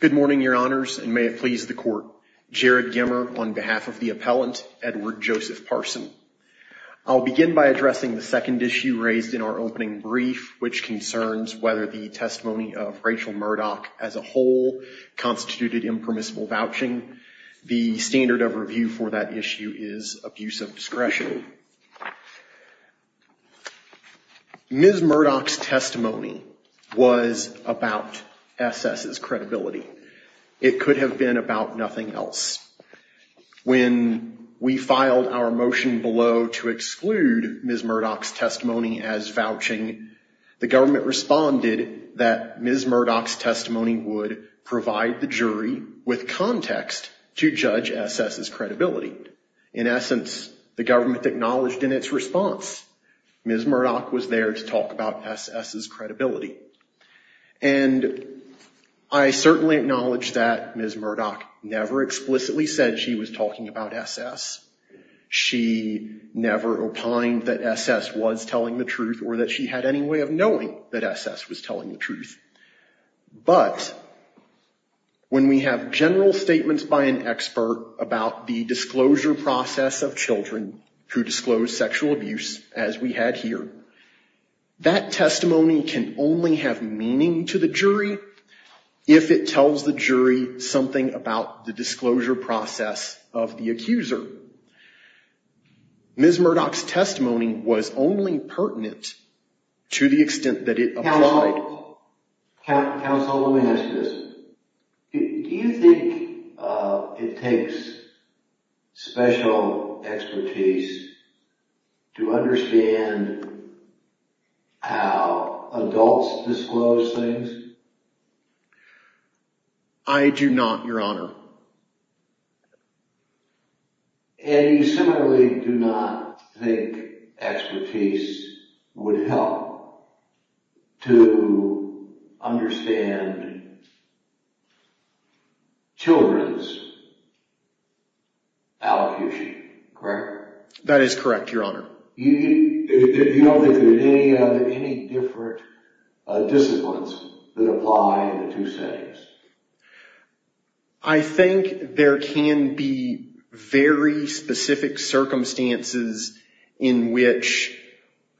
Good morning, Your Honors, and may it please the Court. Jared Gimmer, on behalf of the appellant, Edward Joseph Parson. I'll begin by addressing the second issue raised in our opening brief, which concerns whether the testimony of Rachel Murdoch as a whole constituted impermissible vouching. The standard of review for that issue is abuse of discretion. Ms. Murdoch's testimony was about S.S.'s credibility. It could have been about nothing else. When we filed our motion below to exclude Ms. Murdoch's testimony as vouching, the government responded that Ms. Murdoch's testimony would provide the jury with context to judge S.S.'s credibility. In essence, the government acknowledged in its response, Ms. Murdoch's testimony was about S.S.'s credibility. And I certainly acknowledge that Ms. Murdoch never explicitly said she was talking about S.S. She never opined that S.S. was telling the truth or that she had any way of knowing that S.S. was telling the truth. But when we have general statements by an expert about the disclosure process of children who disclose sexual abuse, as we had here, that testimony can only have meaning to the jury if it tells the jury something about the disclosure process of the accuser. Ms. Murdoch's testimony was only Do you think it takes special expertise to understand how adults disclose things? I do not, Your Honor. And you similarly do not think that special expertise would help to understand children's allocution, correct? That is correct, Your Honor. You don't think there are any different disciplines that apply in the two settings? I think there can be very specific circumstances in which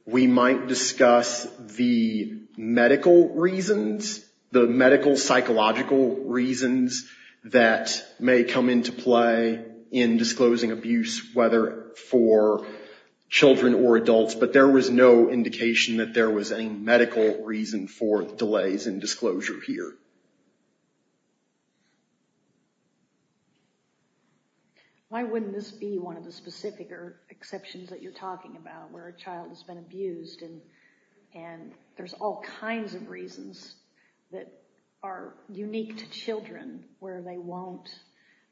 we might discuss the medical reasons, the medical psychological reasons that may come into play in disclosing abuse, whether for children or adults. But there was no indication that there was any medical reason for delays in disclosure here. Why wouldn't this be one of the specific exceptions that you're that are unique to children where they won't,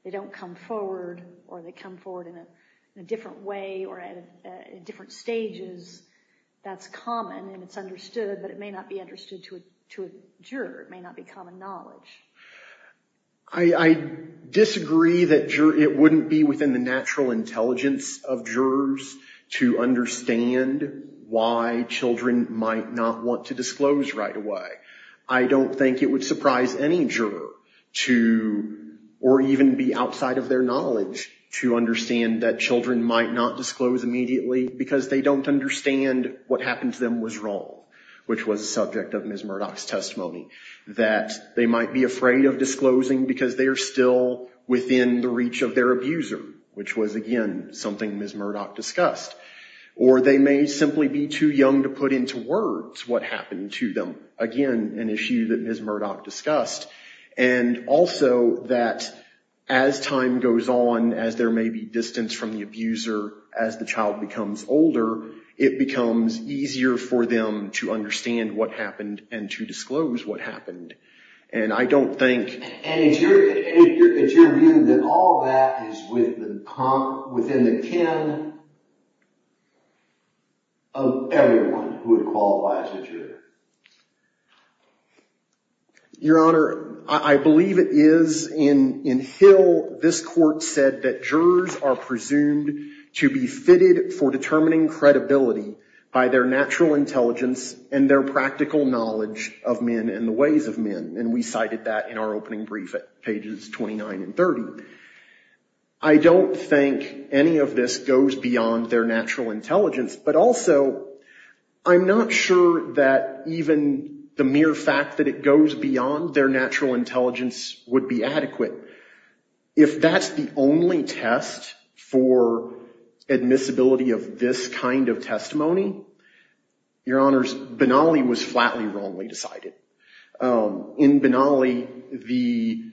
they don't come forward or they come forward in a different way or at different stages that's common and it's understood, but it may not be understood to a juror. It may not be common knowledge. I disagree that it wouldn't be within the natural intelligence of jurors to understand why children might not want to disclose right away. I don't think it would surprise any juror to or even be outside of their knowledge to understand that children might not disclose immediately because they don't understand what happened to them was wrong, which was a subject of discussed. Or they may simply be too young to put into words what happened to them. Again, an issue that Ms. Murdoch discussed. And also that as time goes on, as there may be distance from the abuser, as the child becomes older, it becomes easier for them to understand what happened and to disclose what of everyone who would qualify as a juror. Your Honor, I believe it is in Hill, this court said that jurors are presumed to be fitted for determining credibility by their natural intelligence and their natural intelligence. But also, I'm not sure that even the mere fact that it goes beyond their natural intelligence would be adequate. If that's the only test for admissibility of this kind of testimony, Your Honors, Benally was flatly wrongly decided. In Benally, the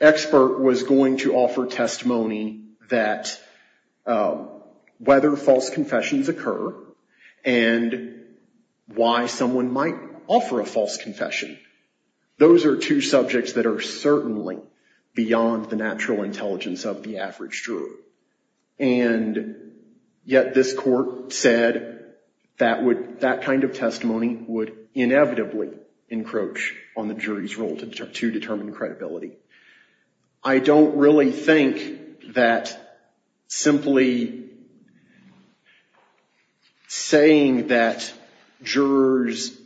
expert was going to offer testimony that the whether false confessions occur and why someone might offer a false confession. Those are two subjects that are certainly beyond the natural intelligence of the average juror. And yet this court said that would, that kind of testimony would inevitably encroach on the jury's role to determine credibility. I don't really think that simply saying that jurors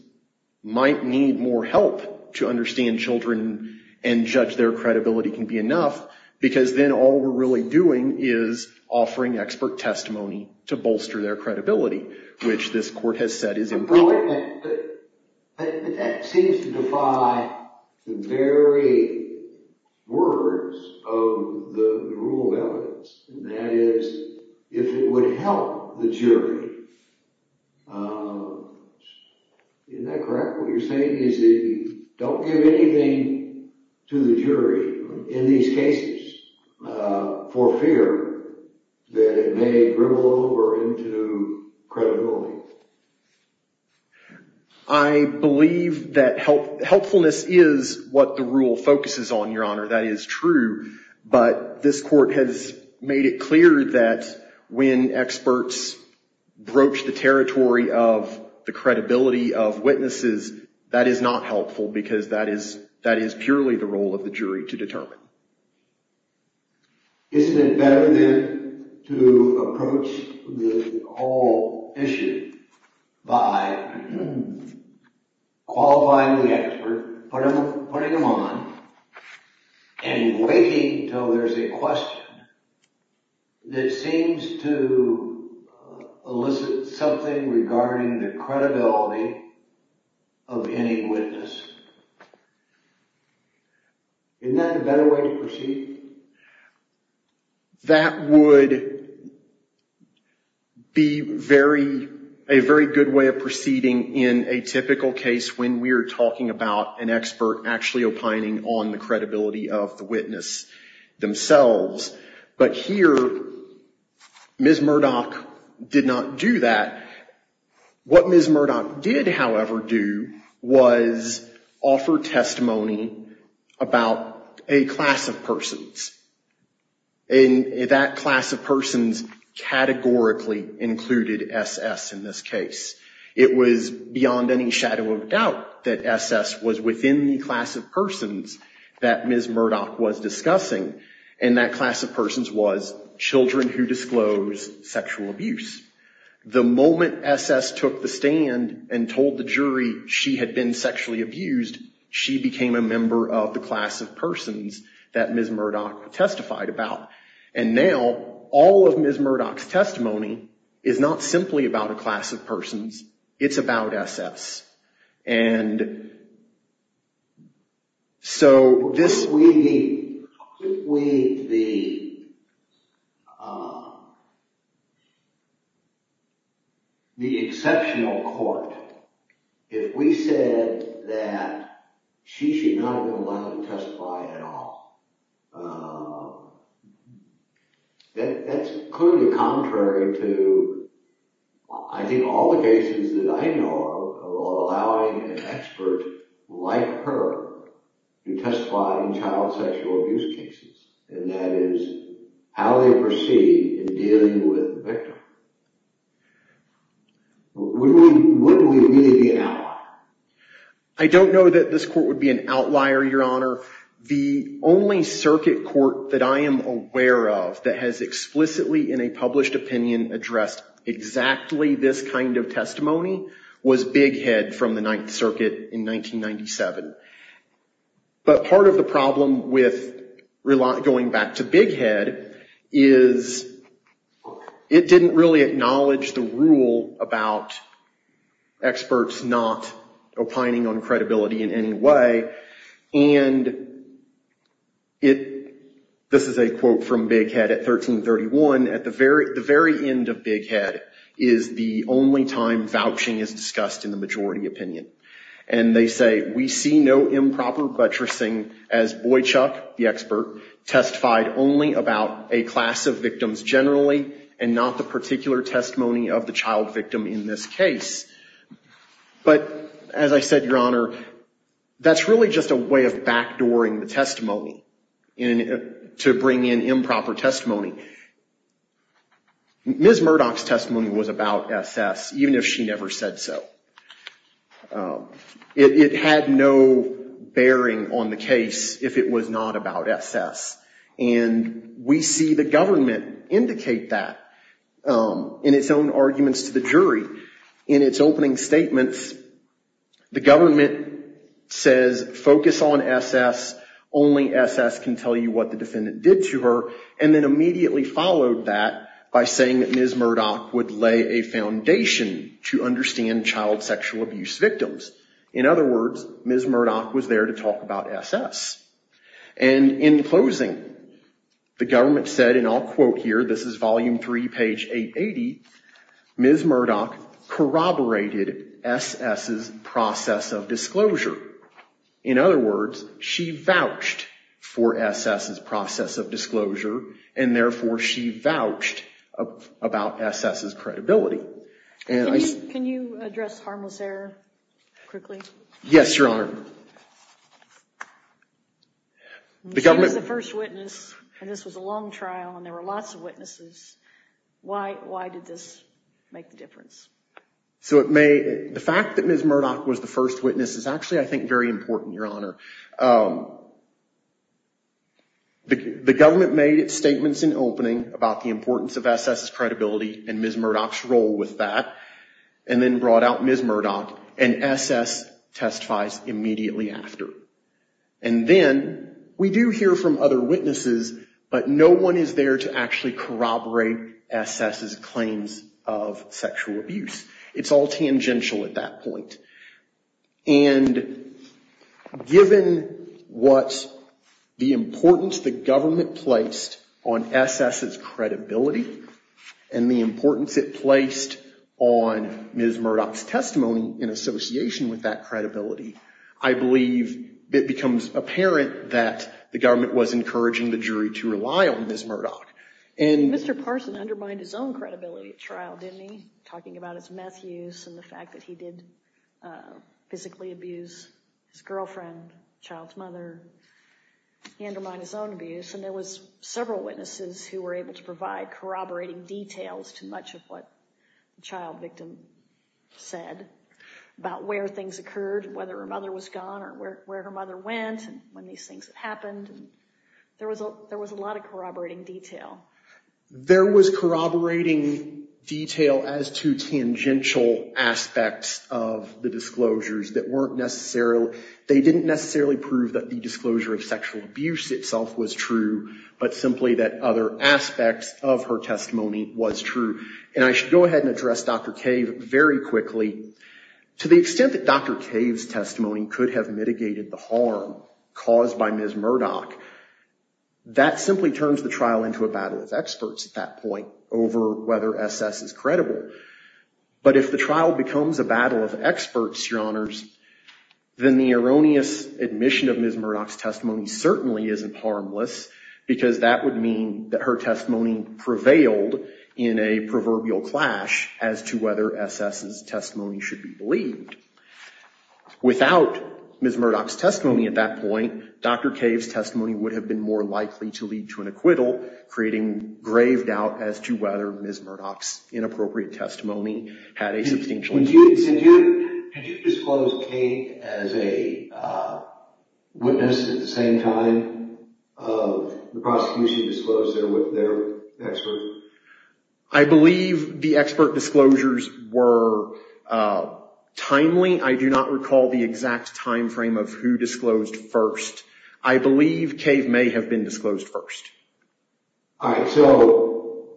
might need more help to understand children and judge their credibility can be enough, because then all we're really doing is offering expert testimony to bolster their credibility, which this court has said is improper. But that seems to defy the very words of the rule of evidence. That is, if it would help the jury, isn't that correct? What you're saying is that you don't give anything to the jury in these cases for fear that it may dribble over into credibility. I believe that helpfulness is what the rule focuses on, Your Honor. That is true. But this court has made it clear that when experts broach the territory of the credibility of witnesses, that is not helpful, because that is purely the role of the jury to determine. Isn't it better then to approach the whole issue by qualifying the expert, putting him on, and waiting until there's a question that seems to elicit something regarding the credibility of any witness? Isn't that a better way to proceed? That would be a very good way of proceeding in a typical case when we're talking about an expert actually opining on the credibility of the witness themselves. But here, Ms. Murdoch did not do that. What Ms. Murdoch did, however, do was offer testimony about a class of persons. And that class of persons categorically included S.S. in this case. It was beyond any shadow of a doubt that S.S. was within the class of persons that Ms. Murdoch was discussing. And that class of persons was children who disclose sexual abuse. The moment S.S. took the stand and told the jury she had been sexually abused, she became a member of the class of persons that Ms. Murdoch testified about. And now, all of Ms. Murdoch's testimony is not simply about a class of persons. It's about S.S. And so, this... ...allowing an expert like her to testify in child sexual abuse cases. And that is how they proceed in dealing with the victim. Wouldn't we really be an outlier? I don't know that this court would be an outlier, Your Honor. The only circuit court that I am aware of that has explicitly in a published opinion addressed exactly this kind of testimony was Big Head from the Ninth Circuit in 1997. But part of the problem with going back to Big Head is it didn't really acknowledge the rule about experts not opining on credibility in any way. And this is a quote from Big Head at 1331. At the very end of Big Head is the only time vouching is discussed in the majority opinion. And they say, we see no improper buttressing as Boychuck, the expert, testified only about a class of victims generally and not the particular testimony of the child victim in this case. But as I said, Your Honor, that's really just a way of backdooring the testimony to bring in improper testimony. Ms. Murdoch's testimony was about S.S. even if she never said so. It had no bearing on the case if it was not about S.S. And we see the government indicate that in its own arguments to the jury. In its opening statements, the government says focus on S.S., only S.S. can tell you what the defendant did to her, and then immediately followed that by saying that Ms. Murdoch would lay a foundation to understand child sexual abuse victims. In other words, Ms. Murdoch was there to talk about S.S. And in closing, the government said, and I'll quote here, this is volume three, page 880, Ms. Murdoch corroborated S.S.'s process of disclosure. In other words, she vouched for S.S.'s process of disclosure, and therefore she vouched about S.S.'s credibility. Can you address harmless error quickly? Yes, Your Honor. She was the first witness, and this was a long trial, and there were lots of witnesses. Why did this make the difference? The fact that Ms. Murdoch was the first witness is actually, I think, very important, Your Honor. The government made its statements in opening about the importance of S.S.'s credibility and Ms. Murdoch's role with that, and then brought out Ms. Murdoch, and S.S. testifies immediately after. And then we do hear from other witnesses, but no one is there to actually corroborate S.S.'s claims of sexual abuse. It's all tangential at that point. And given what the importance the government placed on S.S.'s credibility, and the importance it placed on Ms. Murdoch's testimony in association with that credibility, I believe it becomes apparent that the government was encouraging the jury to rely on Ms. Murdoch. Mr. Parson undermined his own credibility at trial, didn't he? Talking about his meth use and the fact that he did physically abuse his girlfriend, child's mother. He undermined his own abuse, and there were several witnesses who were able to provide corroborating details to much of what the child victim said about where things occurred, whether her mother was gone or where her mother went when these things happened. There was a lot of corroborating detail. There was corroborating detail as to tangential aspects of the disclosures. They didn't necessarily prove that the disclosure of sexual abuse itself was true, but simply that other aspects of her testimony was true. And I should go ahead and address Dr. Cave very quickly. To the extent that Dr. Cave's testimony could have mitigated the harm caused by Ms. Murdoch, that simply turns the trial into a battle of experts at that point over whether S.S. is credible. But if the trial becomes a battle of experts, Your Honors, then the erroneous admission of Ms. Murdoch's testimony certainly isn't harmless because that would mean that her testimony prevailed in a proverbial clash as to whether S.S.'s testimony should be believed. Without Ms. Murdoch's testimony at that point, Dr. Cave's testimony would have been more likely to lead to an acquittal, creating grave doubt as to whether Ms. Murdoch's inappropriate testimony had a substantial impact. Did you disclose Cave as a witness at the same time the prosecution disclosed their expert? I believe the expert disclosures were timely. I do not recall the exact time frame of who disclosed first. I believe Cave may have been disclosed first. All right, so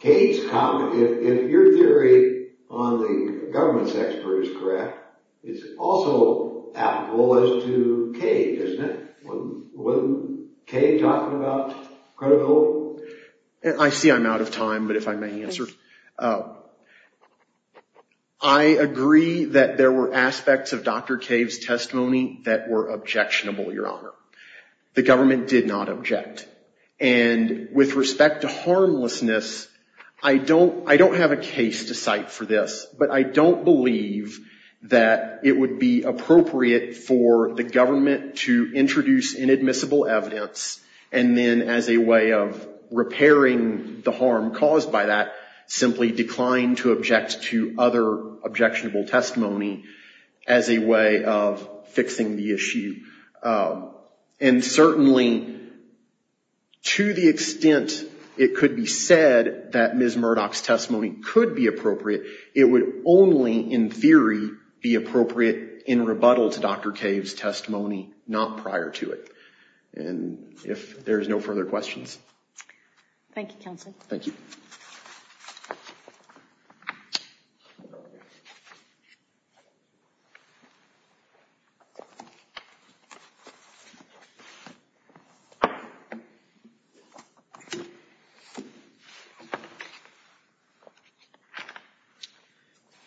Cave's comment, if your theory on the government's expert is correct, it's also applicable as to Cave, isn't it? Was Cave talking about credibility? I see I'm out of time, but if I may answer. I agree that there were aspects of Dr. Cave's testimony that were objectionable, Your Honor. The government did not object. And with respect to harmlessness, I don't have a case to cite for this, but I don't believe that it would be appropriate for the government to introduce inadmissible evidence and then as a way of repairing the harm caused by that, simply decline to object to other objectionable testimony as a way of fixing the issue. And certainly, to the extent it could be said that Ms. Murdoch's testimony could be appropriate, it would only, in theory, be appropriate in rebuttal to Dr. Cave's testimony, not prior to it. And if there's no further questions. Thank you, counsel. Thank you.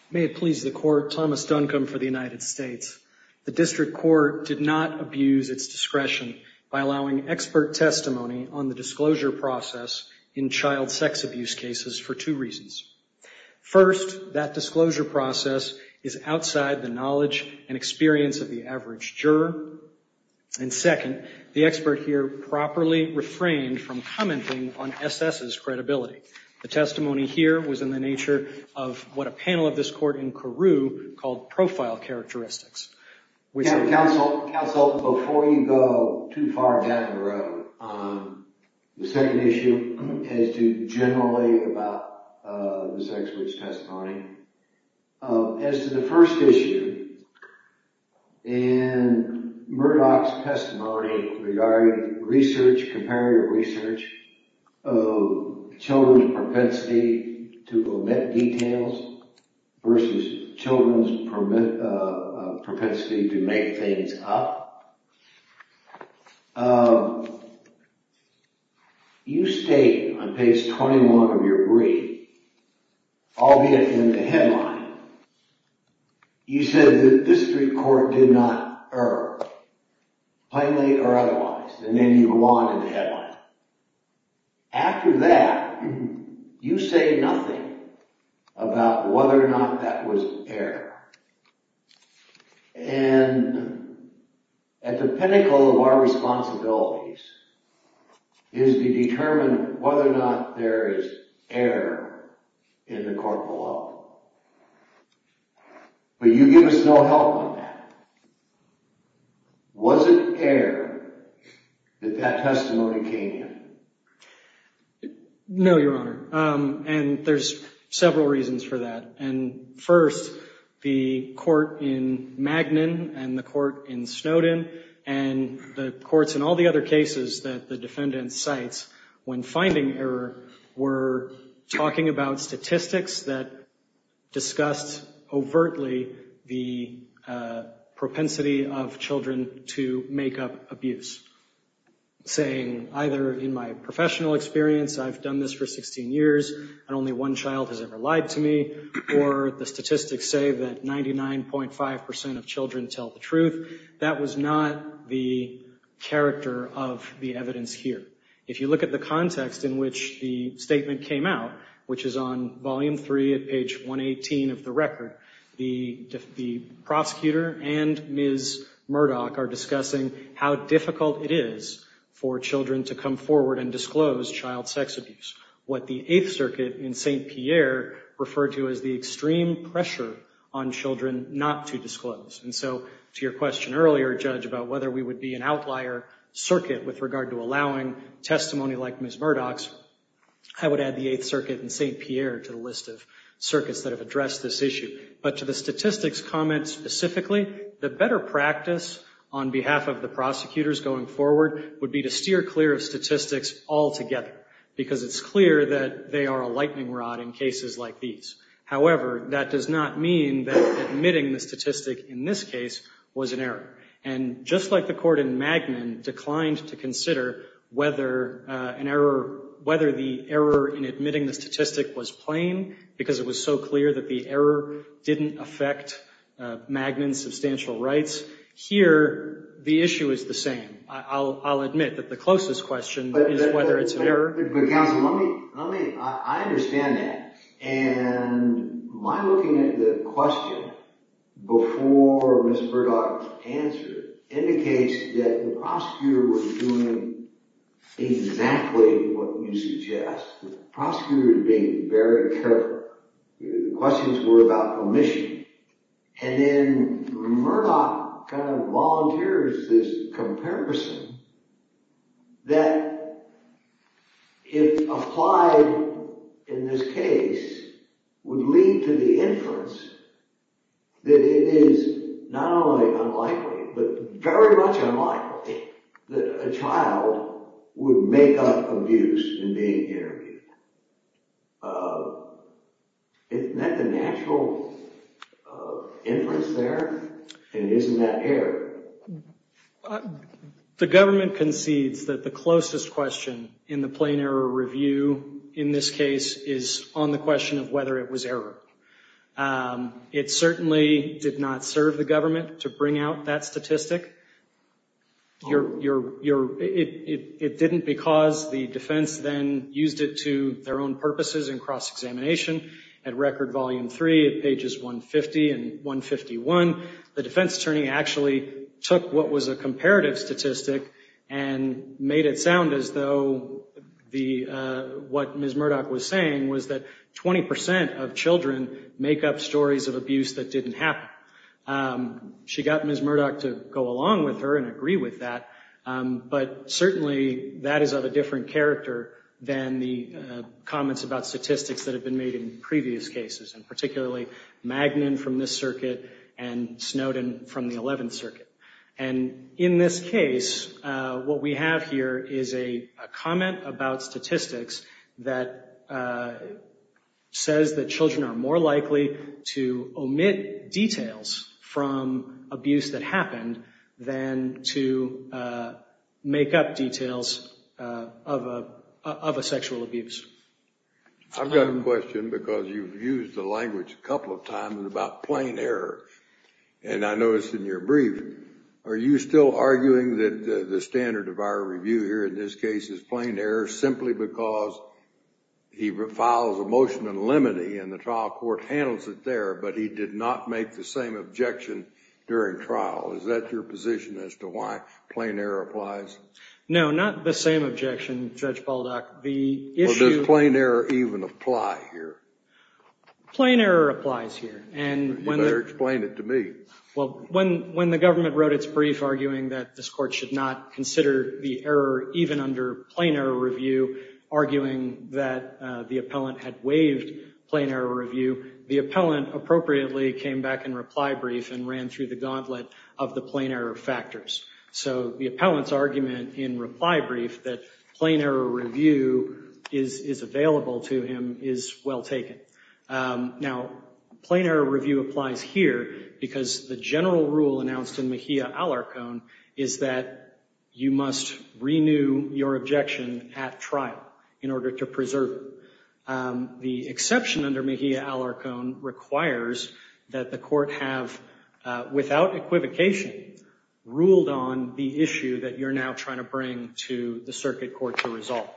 May it please the Court, Thomas Duncombe for the United States. The district court did not abuse its discretion by allowing expert testimony on the disclosure process in child sex abuse cases for two reasons. First, that disclosure process is outside the knowledge and experience of the average juror. And second, the expert here properly refrained from commenting on SS's credibility. The testimony here was in the nature of what a panel of this court in Carew called profile characteristics. Counsel, before you go too far down the road, the second issue as to generally about this expert's testimony, as to the first issue and Murdoch's testimony regarding research, comparative research, of children's propensity to omit details versus children's propensity to make things up, you state on page 21 of your brief, albeit in the headline, you said that this district court did not err, plainly or otherwise. And then you go on in the headline. After that, you say nothing about whether or not that was error. And at the pinnacle of our responsibilities is to determine whether or not there is error in the court below. But you give us no help on that. Was it error that that testimony came in? No, Your Honor. And there's several reasons for that. And first, the court in Magnin and the court in Snowden and the courts in all the other cases that the defendant cites, when finding error, were talking about statistics that discussed overtly the propensity of children to make up abuse. Saying either, in my professional experience, I've done this for 16 years and only one child has ever lied to me, or the statistics say that 99.5 percent of children tell the truth. That was not the character of the evidence here. If you look at the context in which the statement came out, which is on volume 3 at page 118 of the record, the prosecutor and Ms. Murdoch are discussing how difficult it is for children to come forward and disclose child sex abuse, what the Eighth Circuit in St. Pierre referred to as the extreme pressure on children not to disclose. And so to your question earlier, Judge, about whether we would be an outlier circuit with regard to allowing testimony like Ms. Murdoch's, I would add the Eighth Circuit in St. Pierre to the list of circuits that have addressed this issue. But to the statistics comment specifically, the better practice on behalf of the prosecutors going forward would be to steer clear of statistics altogether, because it's clear that they are a lightning rod in cases like these. However, that does not mean that admitting the statistic in this case was an error. And just like the court in Magnin declined to consider whether an error, whether the error in admitting the statistic was plain, because it was so clear that the error didn't affect Magnin's substantial rights, here the issue is the same. I'll admit that the closest question is whether it's an error. But counsel, I understand that. And my looking at the question before Ms. Murdoch answered indicates that the prosecutor was doing exactly what you suggest. The prosecutor was being very careful. The questions were about permission. And then Murdoch kind of volunteers this comparison that if applied in this case, would lead to the inference that it is not only unlikely, but very much unlikely, that a child would make up abuse in being interviewed. Isn't that the natural inference there? And isn't that error? The government concedes that the closest question in the plain error review in this case is on the question of whether it was error. It certainly did not serve the government to bring out that statistic. It didn't because the defense then used it to their own purposes in cross-examination. At Record Volume 3 at pages 150 and 151, the defense attorney actually took what was a comparative statistic and made it sound as though what Ms. Murdoch was saying was that 20 percent of children make up stories of abuse that didn't happen. She got Ms. Murdoch to go along with her and agree with that, but certainly that is of a different character than the comments about statistics that have been made in previous cases, and particularly Magnin from this circuit and Snowden from the 11th Circuit. And in this case, what we have here is a comment about statistics that says that children are more likely to omit details from abuse that happened than to make up details of a sexual abuse. I've got a question because you've used the language a couple of times about plain error, and I noticed in your brief, are you still arguing that the standard of our review here in this case is plain error simply because he files a motion in limine and the trial court handles it there, but he did not make the same objection during trial? Is that your position as to why plain error applies? No, not the same objection, Judge Baldock. Does plain error even apply here? Plain error applies here. You better explain it to me. Well, when the government wrote its brief arguing that this court should not consider the error even under plain error review, arguing that the appellant had waived plain error review, the appellant appropriately came back in reply brief and ran through the gauntlet of the plain error factors. So the appellant's argument in reply brief that plain error review is available to him is well taken. Now, plain error review applies here because the general rule announced in Mejia-Alarcón is that you must renew your objection at trial in order to preserve it. The exception under Mejia-Alarcón requires that the court have, without equivocation, ruled on the issue that you're now trying to bring to the circuit court to resolve.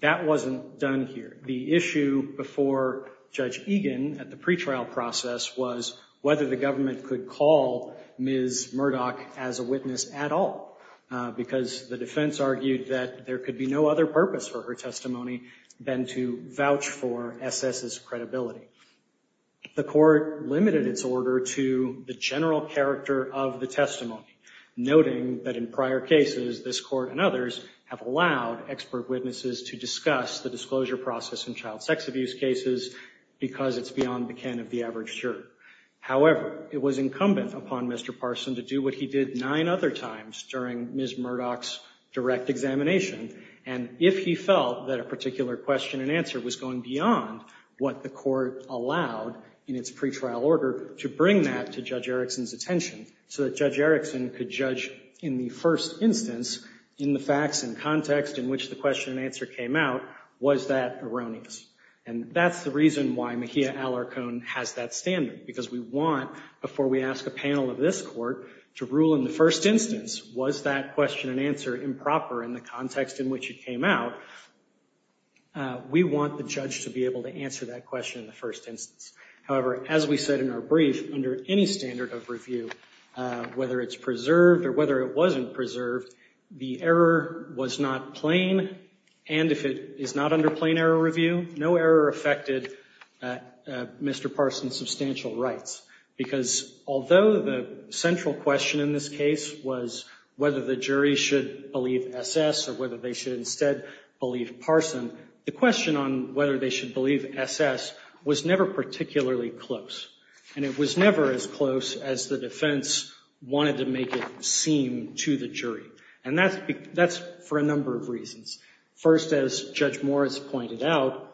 That wasn't done here. The issue before Judge Egan at the pretrial process was whether the government could call Ms. Murdoch as a witness at all because the defense argued that there could be no other purpose for her testimony than to vouch for S.S.'s credibility. The court limited its order to the general character of the testimony, noting that in prior cases, this Court and others have allowed expert witnesses to discuss the disclosure process in child sex abuse cases because it's beyond the ken of the average juror. However, it was incumbent upon Mr. Parson to do what he did nine other times during Ms. Murdoch's direct examination, and if he felt that a particular question and answer was going beyond what the court allowed in its pretrial order, to bring that to Judge Erickson's attention so that Judge Erickson could judge in the first instance in the facts and context in which the question and answer came out, was that erroneous? And that's the reason why Mejia-Alarcón has that standard, because we want, before we ask a panel of this Court to rule in the first instance, was that question and answer improper in the context in which it came out? We want the judge to be able to answer that question in the first instance. However, as we said in our brief, under any standard of review, whether it's preserved or whether it wasn't preserved, the error was not plain, and if it is not under plain error review, no error affected Mr. Parson's substantial rights. Because although the central question in this case was whether the jury should believe S.S. or whether they should instead believe Parson, the question on whether they should believe S.S. was never particularly close, and it was never as close as the defense wanted to make it seem to the jury. And that's for a number of reasons. First, as Judge Morris pointed out,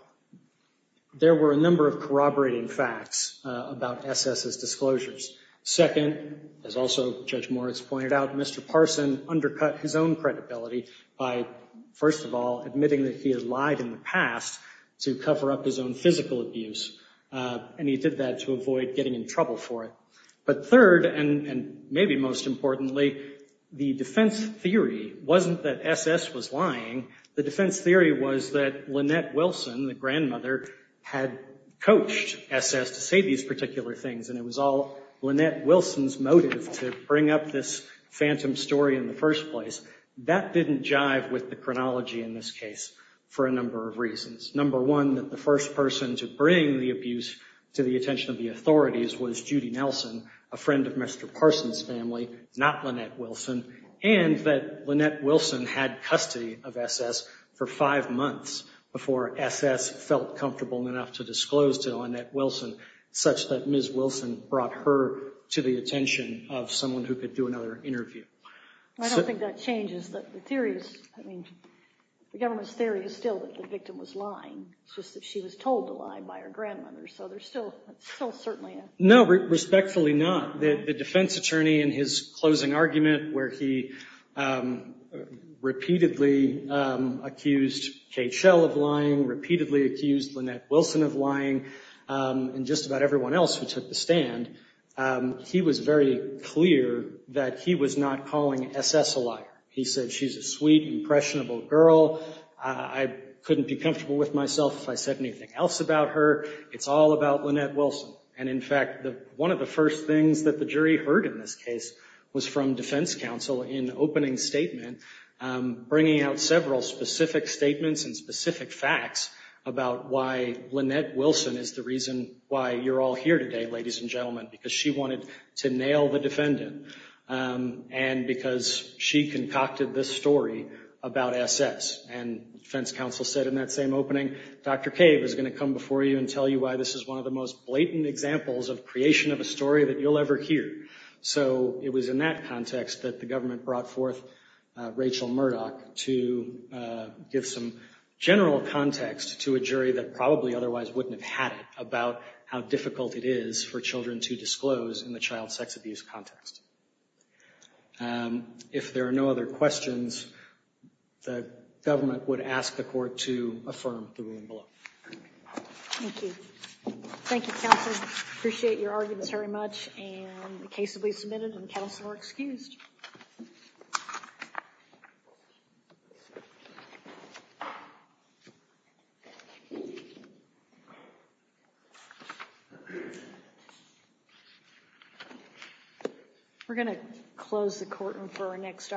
there were a number of corroborating facts about S.S.'s disclosures. Second, as also Judge Morris pointed out, Mr. Parson undercut his own credibility by, first of all, admitting that he had lied in the past to cover up his own physical abuse, and he did that to avoid getting in trouble for it. But third, and maybe most importantly, the defense theory wasn't that S.S. was lying. The defense theory was that Lynette Wilson, the grandmother, had coached S.S. to say these particular things, and it was all Lynette Wilson's motive to bring up this phantom story in the first place. That didn't jive with the chronology in this case for a number of reasons. Number one, that the first person to bring the abuse to the attention of the authorities was Judy Nelson, a friend of Mr. Parson's family, not Lynette Wilson, and that Lynette Wilson had custody of S.S. for five months before S.S. felt comfortable enough to disclose to Lynette Wilson such that Ms. Wilson brought her to the attention of someone who could do another interview. I don't think that changes the theories. I mean, the government's theory is still that the victim was lying. It's just that she was told to lie by her grandmother, so there's still certainly a... No, respectfully not. The defense attorney in his closing argument where he repeatedly accused Kate Shell of lying, repeatedly accused Lynette Wilson of lying, and just about everyone else who took the stand, he was very clear that he was not calling S.S. a liar. He said, she's a sweet, impressionable girl. I couldn't be comfortable with myself if I said anything else about her. It's all about Lynette Wilson. And in fact, one of the first things that the jury heard in this case was from defense counsel in opening statement, bringing out several specific statements and specific facts about why Lynette Wilson is the reason why you're all here today, ladies and gentlemen, because she wanted to nail the defendant and because she concocted this story about S.S. And defense counsel said in that same opening, Dr. Cave is going to come before you and tell you why this is one of the most blatant examples of creation of a story that you'll ever hear. So it was in that context that the government brought forth Rachel Murdoch to give some general context to a jury that probably otherwise wouldn't have had it about how difficult it is for children to disclose in the child sex abuse context. If there are no other questions, the government would ask the court to affirm the ruling below. Thank you. Thank you, counsel. Appreciate your arguments very much. And the case will be submitted and counsel are excused. We're going to close the courtroom for our next.